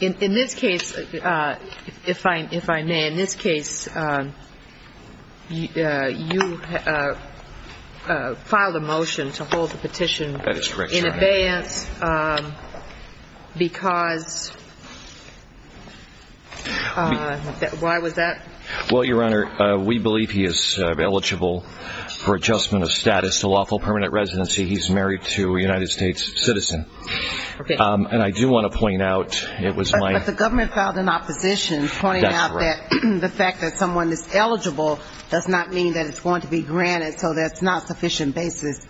In this case, if I may, in this case, you filed a motion to hold the petition in advance because, why was that? Well, Your Honor, we believe he is eligible for adjustment of status to lawful permanent residency. He's married to a United States citizen. And I do want to point out, it was my... But the government filed an opposition pointing out that the fact that someone is eligible does not mean that it's going to be granted, so that's not sufficient basis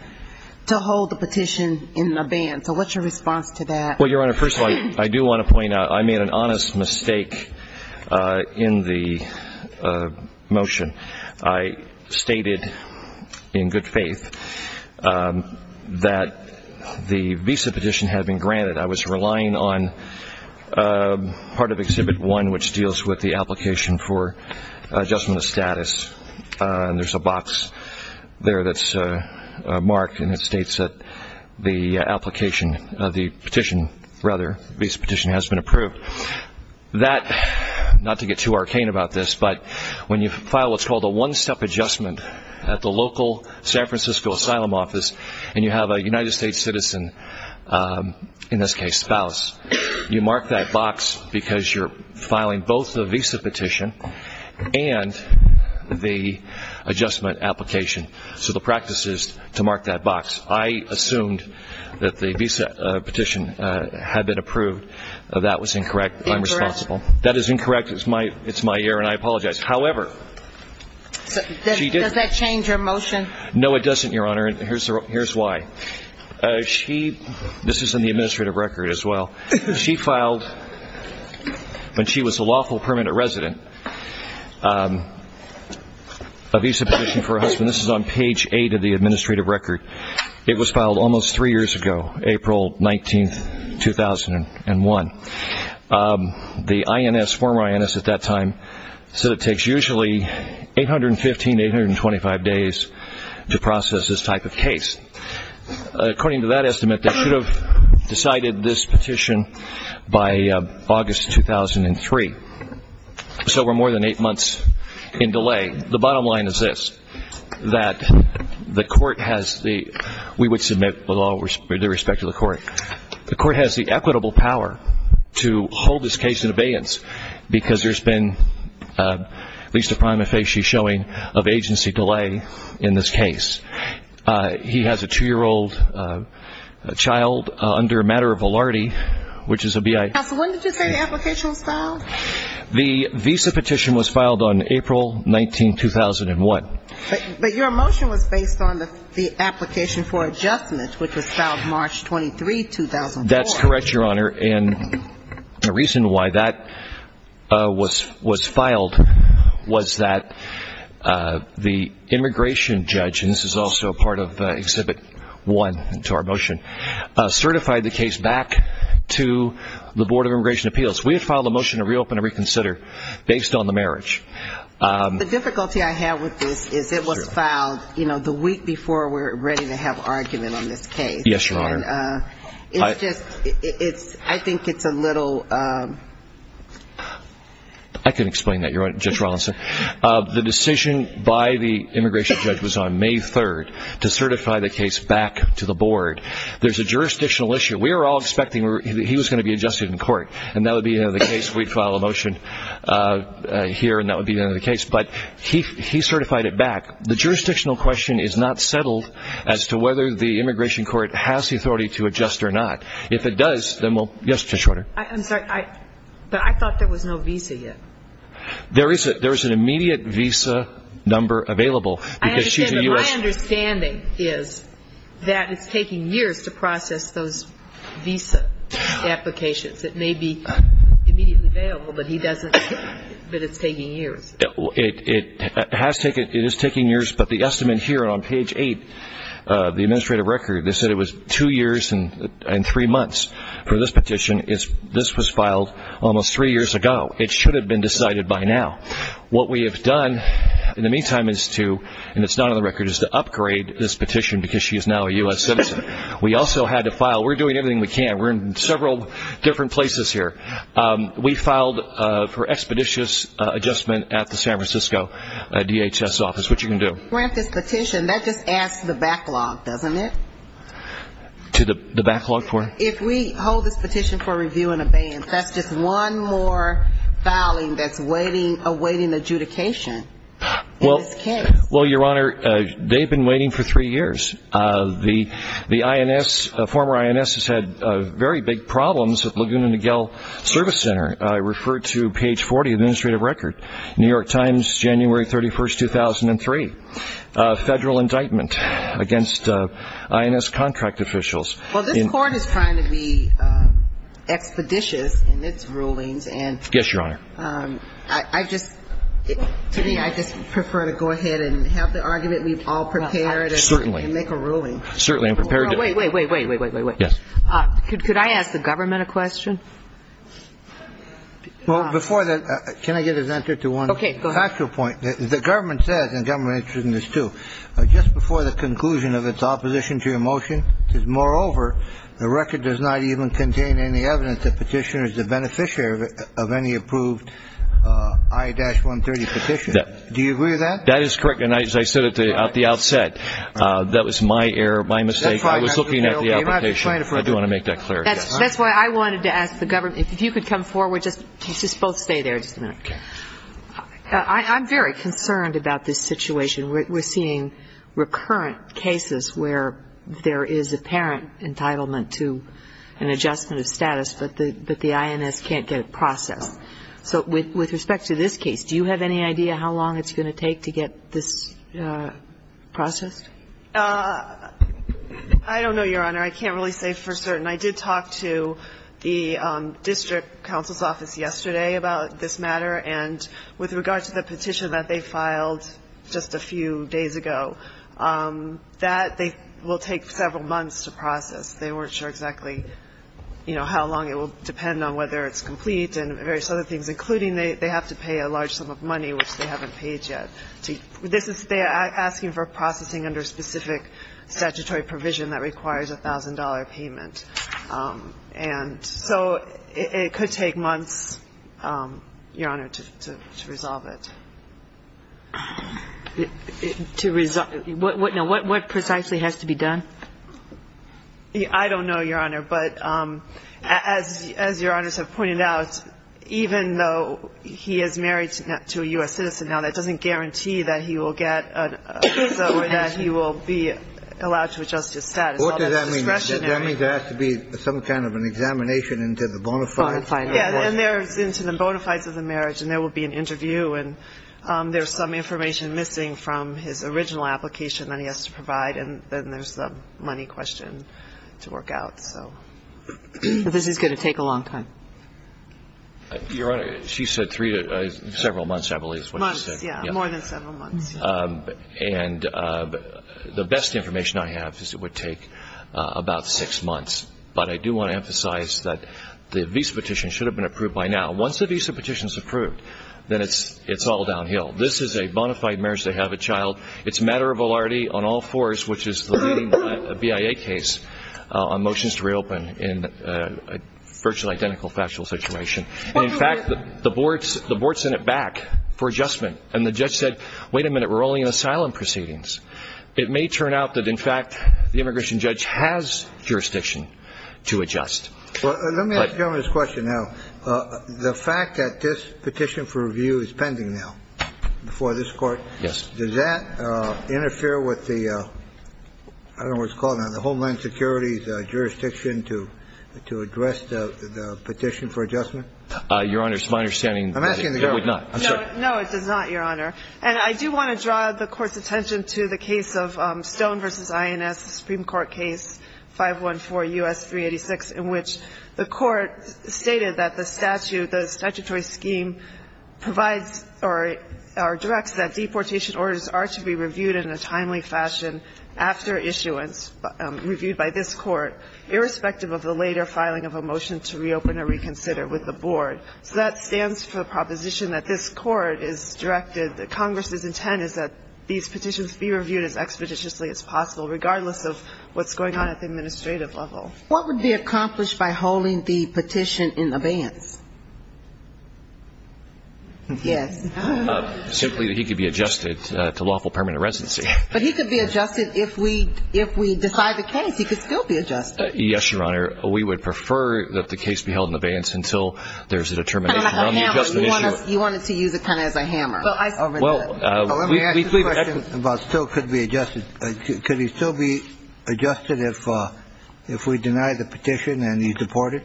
to hold the petition in advance. So what's your response to that? Well, Your Honor, first of all, I do want to point out, I made an honest mistake in the motion. I stated in good faith that the visa petition had been granted. I was relying on part of Exhibit 1, which deals with the application for adjustment of status. And there's a box there that's marked, and it states that the application of the petition, rather, the visa petition has been approved. That, not to get too arcane about this, but when you file what's called a one-step adjustment at the local San Francisco Asylum office, and you have a United States citizen, in this case spouse, you mark that box because you're filing both the visa petition and the adjustment application. So the practice is to mark that box. I assumed that the visa petition had been approved. That was incorrect. I'm responsible. That is incorrect. It's my error, and I apologize. However, she did. Does that change your motion? No, it doesn't, Your Honor, and here's why. This is in the administrative record as well. She filed, when she was a lawful permanent resident, a visa petition for her husband. This is on page 8 of the administrative record. It was filed almost three years ago, April 19, 2001. The INS, former INS at that time, said it takes usually 815 to 825 days to process this type of case. According to that estimate, they should have decided this petition by August 2003. So we're more than eight months in delay. The bottom line is this, that the court has the, we would submit with all due respect to the court, the court has the equitable power to hold this case in abeyance because there's been at least a prima facie showing of agency delay in this case. He has a two-year-old child under a matter of valarty, which is a B.I. Counsel, when did you say the application was filed? The visa petition was filed on April 19, 2001. But your motion was based on the application for adjustment, which was filed March 23, 2004. That's correct, Your Honor, and the reason why that was filed was that the immigration judge, and this is also part of Exhibit 1 to our motion, certified the case back to the Board of Immigration Appeals. We had filed a motion to reopen and reconsider based on the marriage. The difficulty I have with this is it was filed, you know, the week before we're ready to have argument on this case. Yes, Your Honor. And it's just, I think it's a little. I can explain that, Your Honor, Judge Rawlinson. The decision by the immigration judge was on May 3rd to certify the case back to the Board. There's a jurisdictional issue. We were all expecting he was going to be adjusted in court, and that would be the end of the case. We'd file a motion here, and that would be the end of the case. But he certified it back. The jurisdictional question is not settled as to whether the immigration court has the authority to adjust or not. If it does, then we'll. Yes, Judge Schroeder. I'm sorry, but I thought there was no visa yet. There is an immediate visa number available. My understanding is that it's taking years to process those visa applications. It may be immediately available, but it's taking years. It is taking years, but the estimate here on page 8 of the administrative record, they said it was two years and three months for this petition. This was filed almost three years ago. It should have been decided by now. What we have done in the meantime is to, and it's not on the record, is to upgrade this petition because she is now a U.S. citizen. We also had to file. We're doing everything we can. We're in several different places here. We filed for expeditious adjustment at the San Francisco DHS office, which you can do. Grant this petition, that just adds to the backlog, doesn't it? To the backlog for? If we hold this petition for review and abeyance, that's just one more filing that's awaiting adjudication in this case. Well, Your Honor, they've been waiting for three years. The former INS has had very big problems at Laguna Niguel Service Center. I refer to page 40 of the administrative record, New York Times, January 31, 2003, federal indictment against INS contract officials. Well, this Court is trying to be expeditious in its rulings. Yes, Your Honor. I just, to me, I just prefer to go ahead and have the argument we've all prepared and make a ruling. Certainly. Certainly, I'm prepared to. Wait, wait, wait, wait, wait, wait, wait, wait. Yes. Could I ask the government a question? Well, before that, can I get an answer to one factual point? Okay, go ahead. The government says, and the government has written this too, just before the conclusion of its opposition to your motion, that, moreover, the record does not even contain any evidence that Petitioner is the beneficiary of any approved I-130 petition. Do you agree with that? That is correct. And as I said at the outset, that was my error, my mistake. I was looking at the application. I do want to make that clear. That's why I wanted to ask the government, if you could come forward, just both stay there just a minute. Okay. I'm very concerned about this situation. We're seeing recurrent cases where there is apparent entitlement to an adjustment of status, but the INS can't get it processed. So with respect to this case, do you have any idea how long it's going to take to get this processed? I don't know, Your Honor. I can't really say for certain. I did talk to the district counsel's office yesterday about this matter. And with regard to the petition that they filed just a few days ago, that they will take several months to process. They weren't sure exactly, you know, how long it will depend on whether it's complete and various other things, including they have to pay a large sum of money, which they haven't paid yet. This is they are asking for processing under specific statutory provision that requires a $1,000 payment. And so it could take months, Your Honor, to resolve it. What precisely has to be done? I don't know, Your Honor. But as Your Honors have pointed out, even though he is married to a U.S. citizen now, that doesn't guarantee that he will get or that he will be allowed to adjust his status. What does that mean? Does that mean there has to be some kind of an examination into the bona fides? Yeah, into the bona fides of the marriage, and there will be an interview, and there's some information missing from his original application that he has to provide, and then there's the money question to work out. This is going to take a long time. Your Honor, she said several months, I believe is what she said. Months, yeah, more than several months. And the best information I have is it would take about six months. But I do want to emphasize that the visa petition should have been approved by now. Once the visa petition is approved, then it's all downhill. This is a bona fide marriage. They have a child. It's a matter of validity on all fours, which is the BIA case, on motions to reopen in a virtually identical factual situation. In fact, the board sent it back for adjustment, and the judge said, wait a minute, we're only in asylum proceedings. It may turn out that, in fact, the immigration judge has jurisdiction to adjust. Let me ask the gentleman this question now. The fact that this petition for review is pending now before this Court, does that interfere with the, I don't know what it's called now, the Homeland Security's jurisdiction to address the petition for adjustment? Your Honor, it's my understanding that it would not. No, it does not, Your Honor. And I do want to draw the Court's attention to the case of Stone v. INS, the Supreme Court case 514 U.S. 386, in which the Court stated that the statute, the statutory scheme provides or directs that deportation orders are to be reviewed in a timely fashion after issuance, reviewed by this Court, irrespective of the later filing of a motion to reopen or reconsider with the board. So that stands for the proposition that this Court has directed, that Congress's intent is that these petitions be reviewed as expeditiously as possible, regardless of what's going on at the administrative level. What would be accomplished by holding the petition in abeyance? Yes. Simply that he could be adjusted to lawful permanent residency. But he could be adjusted if we decide the case, he could still be adjusted. Yes, Your Honor. We would prefer that the case be held in abeyance until there's a determination on the adjustment issue. You wanted to use it kind of as a hammer. Well, we believe that could be adjusted. Could he still be adjusted if we deny the petition and he's deported?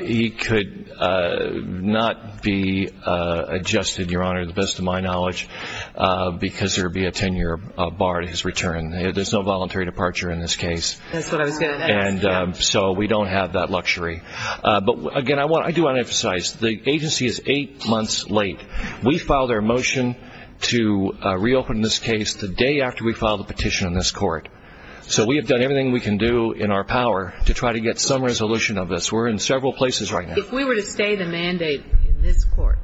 He could not be adjusted, Your Honor, to the best of my knowledge, because there would be a 10-year bar to his return. There's no voluntary departure in this case. That's what I was going to ask. So we don't have that luxury. But, again, I do want to emphasize the agency is eight months late. We filed our motion to reopen this case the day after we filed the petition in this Court. So we have done everything we can do in our power to try to get some resolution of this. We're in several places right now. If we were to stay the mandate in this Court,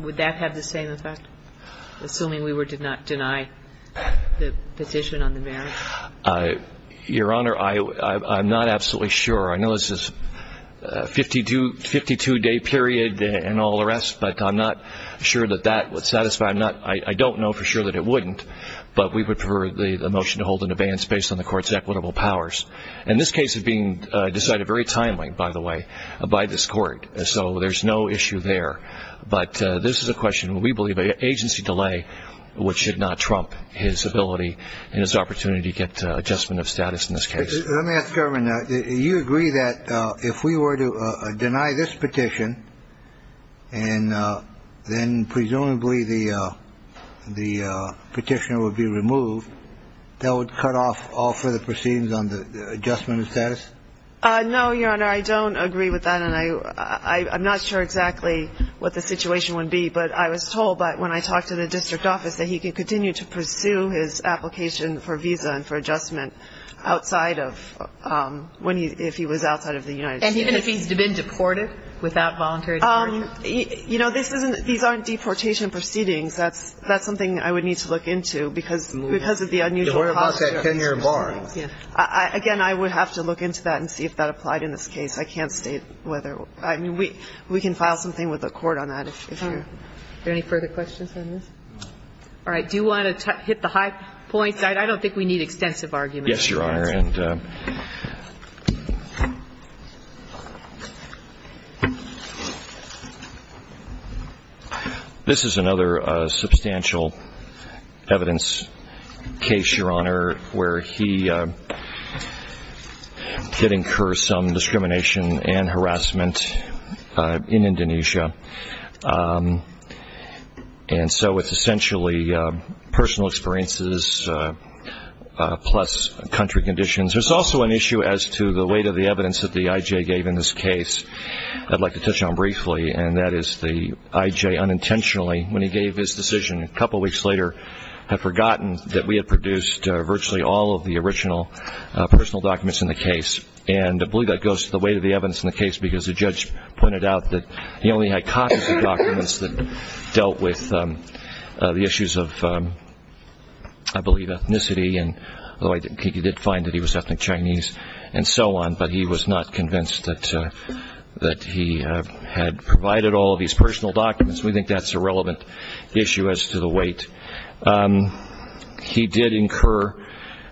would that have the same effect, assuming we did not deny the petition on the merits? Your Honor, I'm not absolutely sure. I know this is a 52-day period and all the rest, but I'm not sure that that would satisfy. I don't know for sure that it wouldn't, but we would prefer the motion to hold an abeyance based on the Court's equitable powers. And this case is being decided very timely, by the way, by this Court. So there's no issue there. But this is a question, we believe, of agency delay, which should not trump his ability and his opportunity to get adjustment of status in this case. Let me ask the government. Do you agree that if we were to deny this petition, and then presumably the petitioner would be removed, that would cut off all further proceedings on the adjustment of status? No, Your Honor, I don't agree with that. And I'm not sure exactly what the situation would be. But I was told, when I talked to the district office, that he could continue to pursue his application for visa and for adjustment outside of when he, if he was outside of the United States. And even if he's been deported without voluntary deportation? You know, this isn't, these aren't deportation proceedings. That's something I would need to look into because of the unusual process. You worry about that 10-year bar. Again, I would have to look into that and see if that applied in this case. I can't state whether, I mean, we can file something with the Court on that. Is there any further questions on this? All right. Do you want to hit the high points? I don't think we need extensive arguments. Yes, Your Honor. This is another substantial evidence case, Your Honor, where he did incur some discrimination and harassment in Indonesia. And so it's essentially personal experiences plus country conditions. There's also an issue as to the weight of the evidence that the I.J. gave in this case. I'd like to touch on briefly, and that is the I.J. unintentionally, when he gave his decision, a couple weeks later had forgotten that we had produced virtually all of the original personal documents in the case. And I believe that goes to the weight of the evidence in the case because the judge pointed out that he only had copies of documents that dealt with the issues of, I believe, ethnicity. Although he did find that he was ethnic Chinese and so on, but he was not convinced that he had provided all of these personal documents. We think that's a relevant issue as to the weight. He did incur,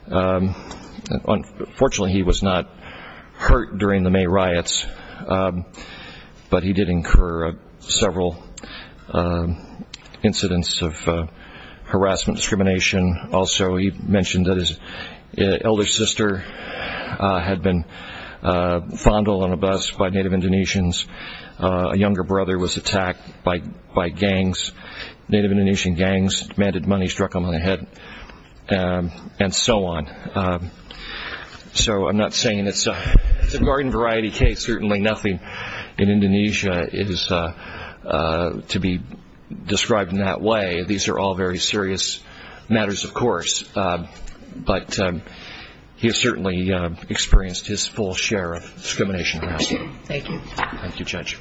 unfortunately he was not hurt during the May riots, but he did incur several incidents of harassment, discrimination. Also, he mentioned that his elder sister had been fondled on a bus by Native Indonesians. A younger brother was attacked by gangs, Native Indonesian gangs, demanded money, struck him on the head, and so on. So I'm not saying it's a garden variety case. Certainly nothing in Indonesia is to be described in that way. These are all very serious matters, of course. But he has certainly experienced his full share of discrimination. Thank you. Thank you, Judge.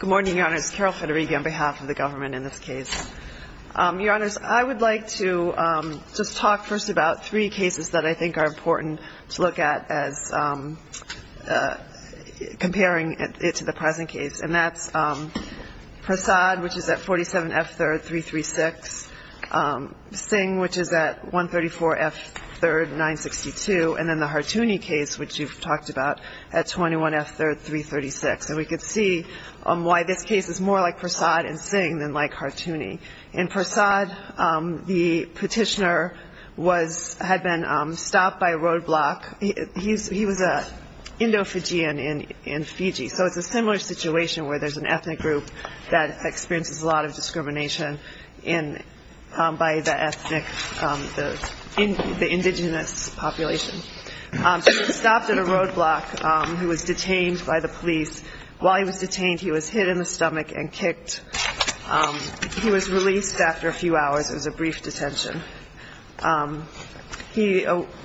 Good morning, Your Honors. Carol Federighi on behalf of the government in this case. Your Honors, I would like to just talk first about three cases that I think are important to look at as comparing it to the present case, and that's Prasad, which is at 47F3336, Singh, which is at 134F3962, and then the Hartuni case, which you've talked about, at 21F336. And we could see why this case is more like Prasad and Singh than like Hartuni. In Prasad, the petitioner had been stopped by a roadblock. He was an Indo-Fijian in Fiji, so it's a similar situation where there's an ethnic group that experiences a lot of discrimination by the ethnic, the indigenous population. So he was stopped at a roadblock. He was detained by the police. While he was detained, he was hit in the stomach and kicked. He was released after a few hours. It was a brief detention.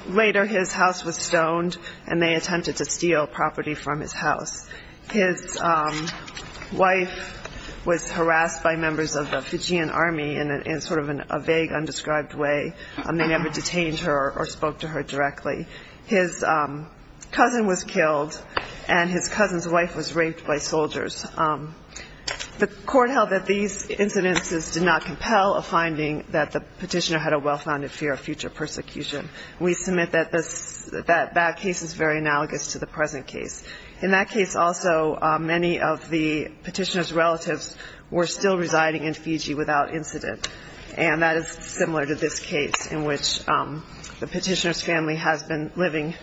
Later, his house was stoned, and they attempted to steal property from his house. His wife was harassed by members of the Fijian army in sort of a vague, undescribed way. They never detained her or spoke to her directly. His cousin was killed, and his cousin's wife was raped by soldiers. The court held that these incidences did not compel a finding that the petitioner had a well-founded fear of future persecution. We submit that that case is very analogous to the present case. In that case also, many of the petitioner's relatives were still residing in Fiji without incident, and that is similar to this case in which the petitioner's family has been living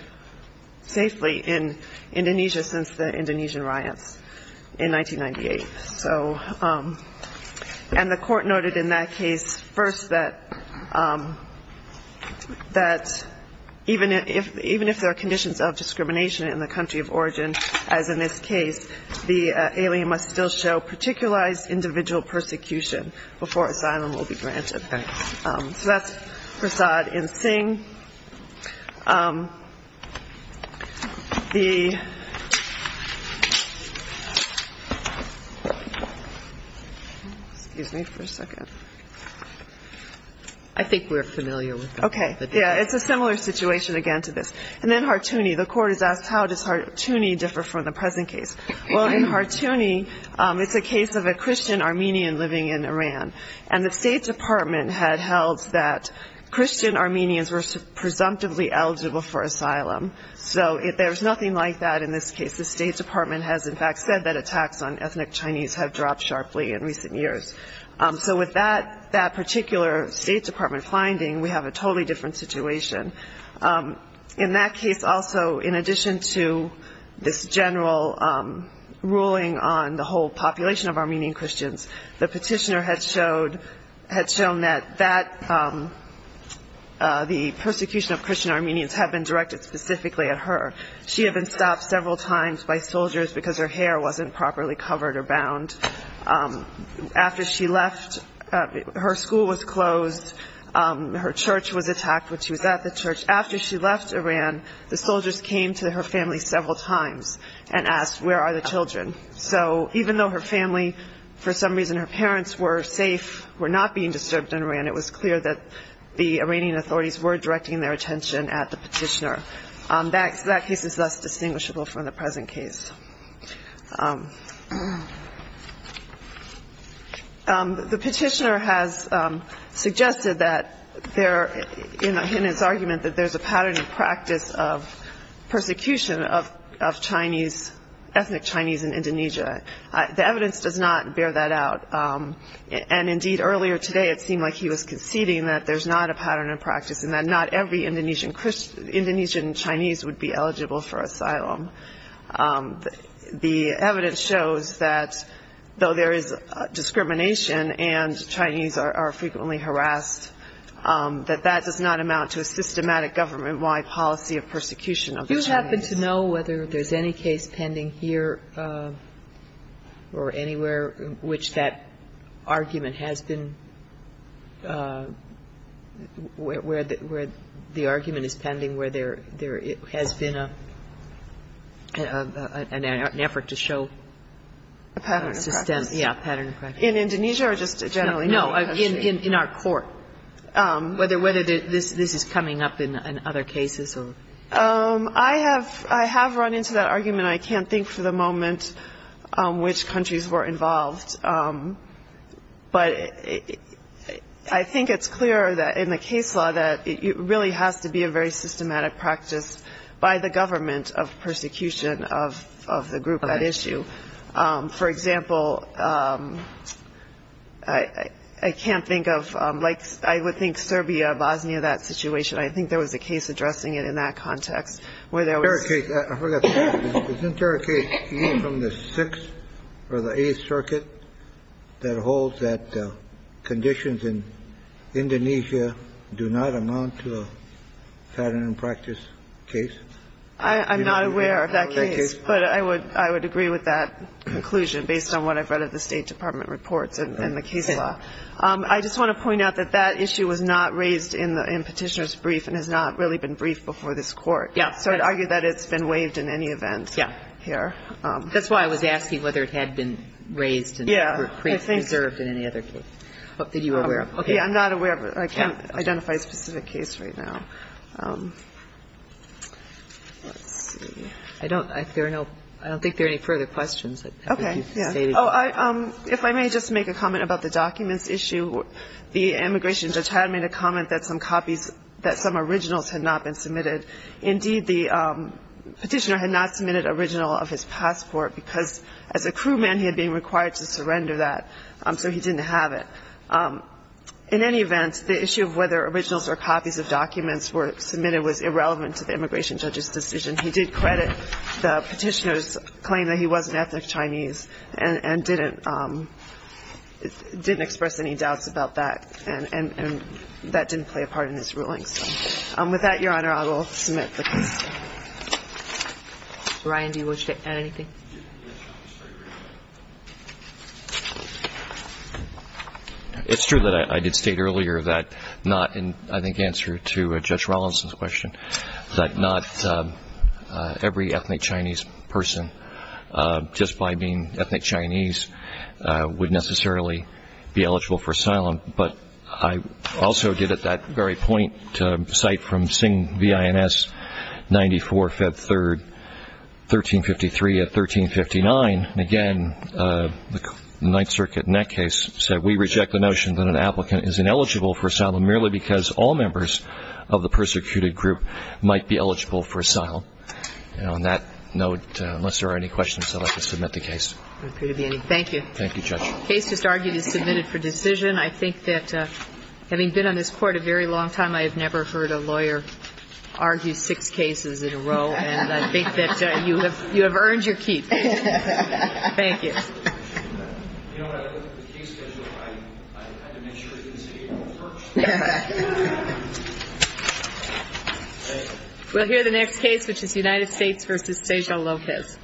safely in Indonesia since the Indonesian riots in 1998. And the court noted in that case first that even if there are conditions of discrimination in the country of origin, as in this case, the alien must still show particularized individual persecution before asylum will be granted. So that's Prasad N. Singh. The ‑‑ excuse me for a second. I think we're familiar with that. Okay. Yeah, it's a similar situation again to this. And then Hartouni. The court has asked how does Hartouni differ from the present case. Well, in Hartouni, it's a case of a Christian Armenian living in Iran, and the State Department had held that Christian Armenians were presumptively eligible for asylum. So there's nothing like that in this case. The State Department has, in fact, said that attacks on ethnic Chinese have dropped sharply in recent years. So with that particular State Department finding, we have a totally different situation. In that case also, in addition to this general ruling on the whole population of Armenian Christians, the petitioner had shown that the persecution of Christian Armenians had been directed specifically at her. She had been stopped several times by soldiers because her hair wasn't properly covered or bound. After she left, her school was closed. Her church was attacked when she was at the church. After she left Iran, the soldiers came to her family several times and asked where are the children. So even though her family, for some reason her parents were safe, were not being disturbed in Iran, it was clear that the Iranian authorities were directing their attention at the petitioner. That case is thus distinguishable from the present case. The petitioner has suggested that there, in his argument, that there's a pattern and practice of persecution of Chinese, ethnic Chinese in Indonesia. The evidence does not bear that out. And, indeed, earlier today it seemed like he was conceding that there's not a pattern and practice and that not every Indonesian Chinese would be eligible for asylum. The evidence shows that though there is discrimination and Chinese are frequently harassed, that that does not amount to a systematic government-wide policy of persecution of the Chinese. Do you happen to know whether there's any case pending here or anywhere in which that argument has been where the argument is pending where there has been an effort to show a pattern of practice? In Indonesia or just generally? No, in our court. Whether this is coming up in other cases? I have run into that argument. I can't think for the moment which countries were involved. But I think it's clear that in the case law that it really has to be a very systematic practice by the government of persecution of the group at issue. For example, I can't think of like I would think Serbia, Bosnia, that situation. I think there was a case addressing it in that context where there was. Isn't there a case from the Sixth or the Eighth Circuit that holds that conditions in Indonesia do not amount to a pattern and practice case? I'm not aware of that case. But I would agree with that conclusion based on what I've read of the State Department reports and the case law. I just want to point out that that issue was not raised in Petitioner's brief and has not really been briefed before this court. So I'd argue that it's been waived in any event here. That's why I was asking whether it had been raised and preserved in any other case. I'm not aware of it. I can't identify a specific case right now. I don't think there are any further questions. If I may just make a comment about the documents issue. The immigration judge had made a comment that some originals had not been submitted. Indeed, the petitioner had not submitted an original of his passport because as a crewman he had been required to surrender that, so he didn't have it. In any event, the issue of whether originals or copies of documents were submitted was irrelevant to the immigration judge's decision. He did credit the petitioner's claim that he was an ethnic Chinese and didn't express any doubts about that, and that didn't play a part in his ruling. With that, Your Honor, I will submit the case. Ryan, do you wish to add anything? It's true that I did state earlier that not in, I think, answer to Judge Rollinson's question, that not every ethnic Chinese person, just by being ethnic Chinese, would necessarily be eligible for asylum. But I also did at that very point cite from Singh, V.I.N.S., 94, Feb. 3, 1353 to 1359. Again, the Ninth Circuit in that case said, merely because all members of the persecuted group might be eligible for asylum. On that note, unless there are any questions, I'd like to submit the case. Thank you. Thank you, Judge. The case just argued is submitted for decision. I think that having been on this Court a very long time, I have never heard a lawyer argue six cases in a row, and I think that you have earned your keep. Thank you. You know what? I looked at the case schedule. I had to make sure it didn't say April 1st. We'll hear the next case, which is United States v. Sejal Lopez.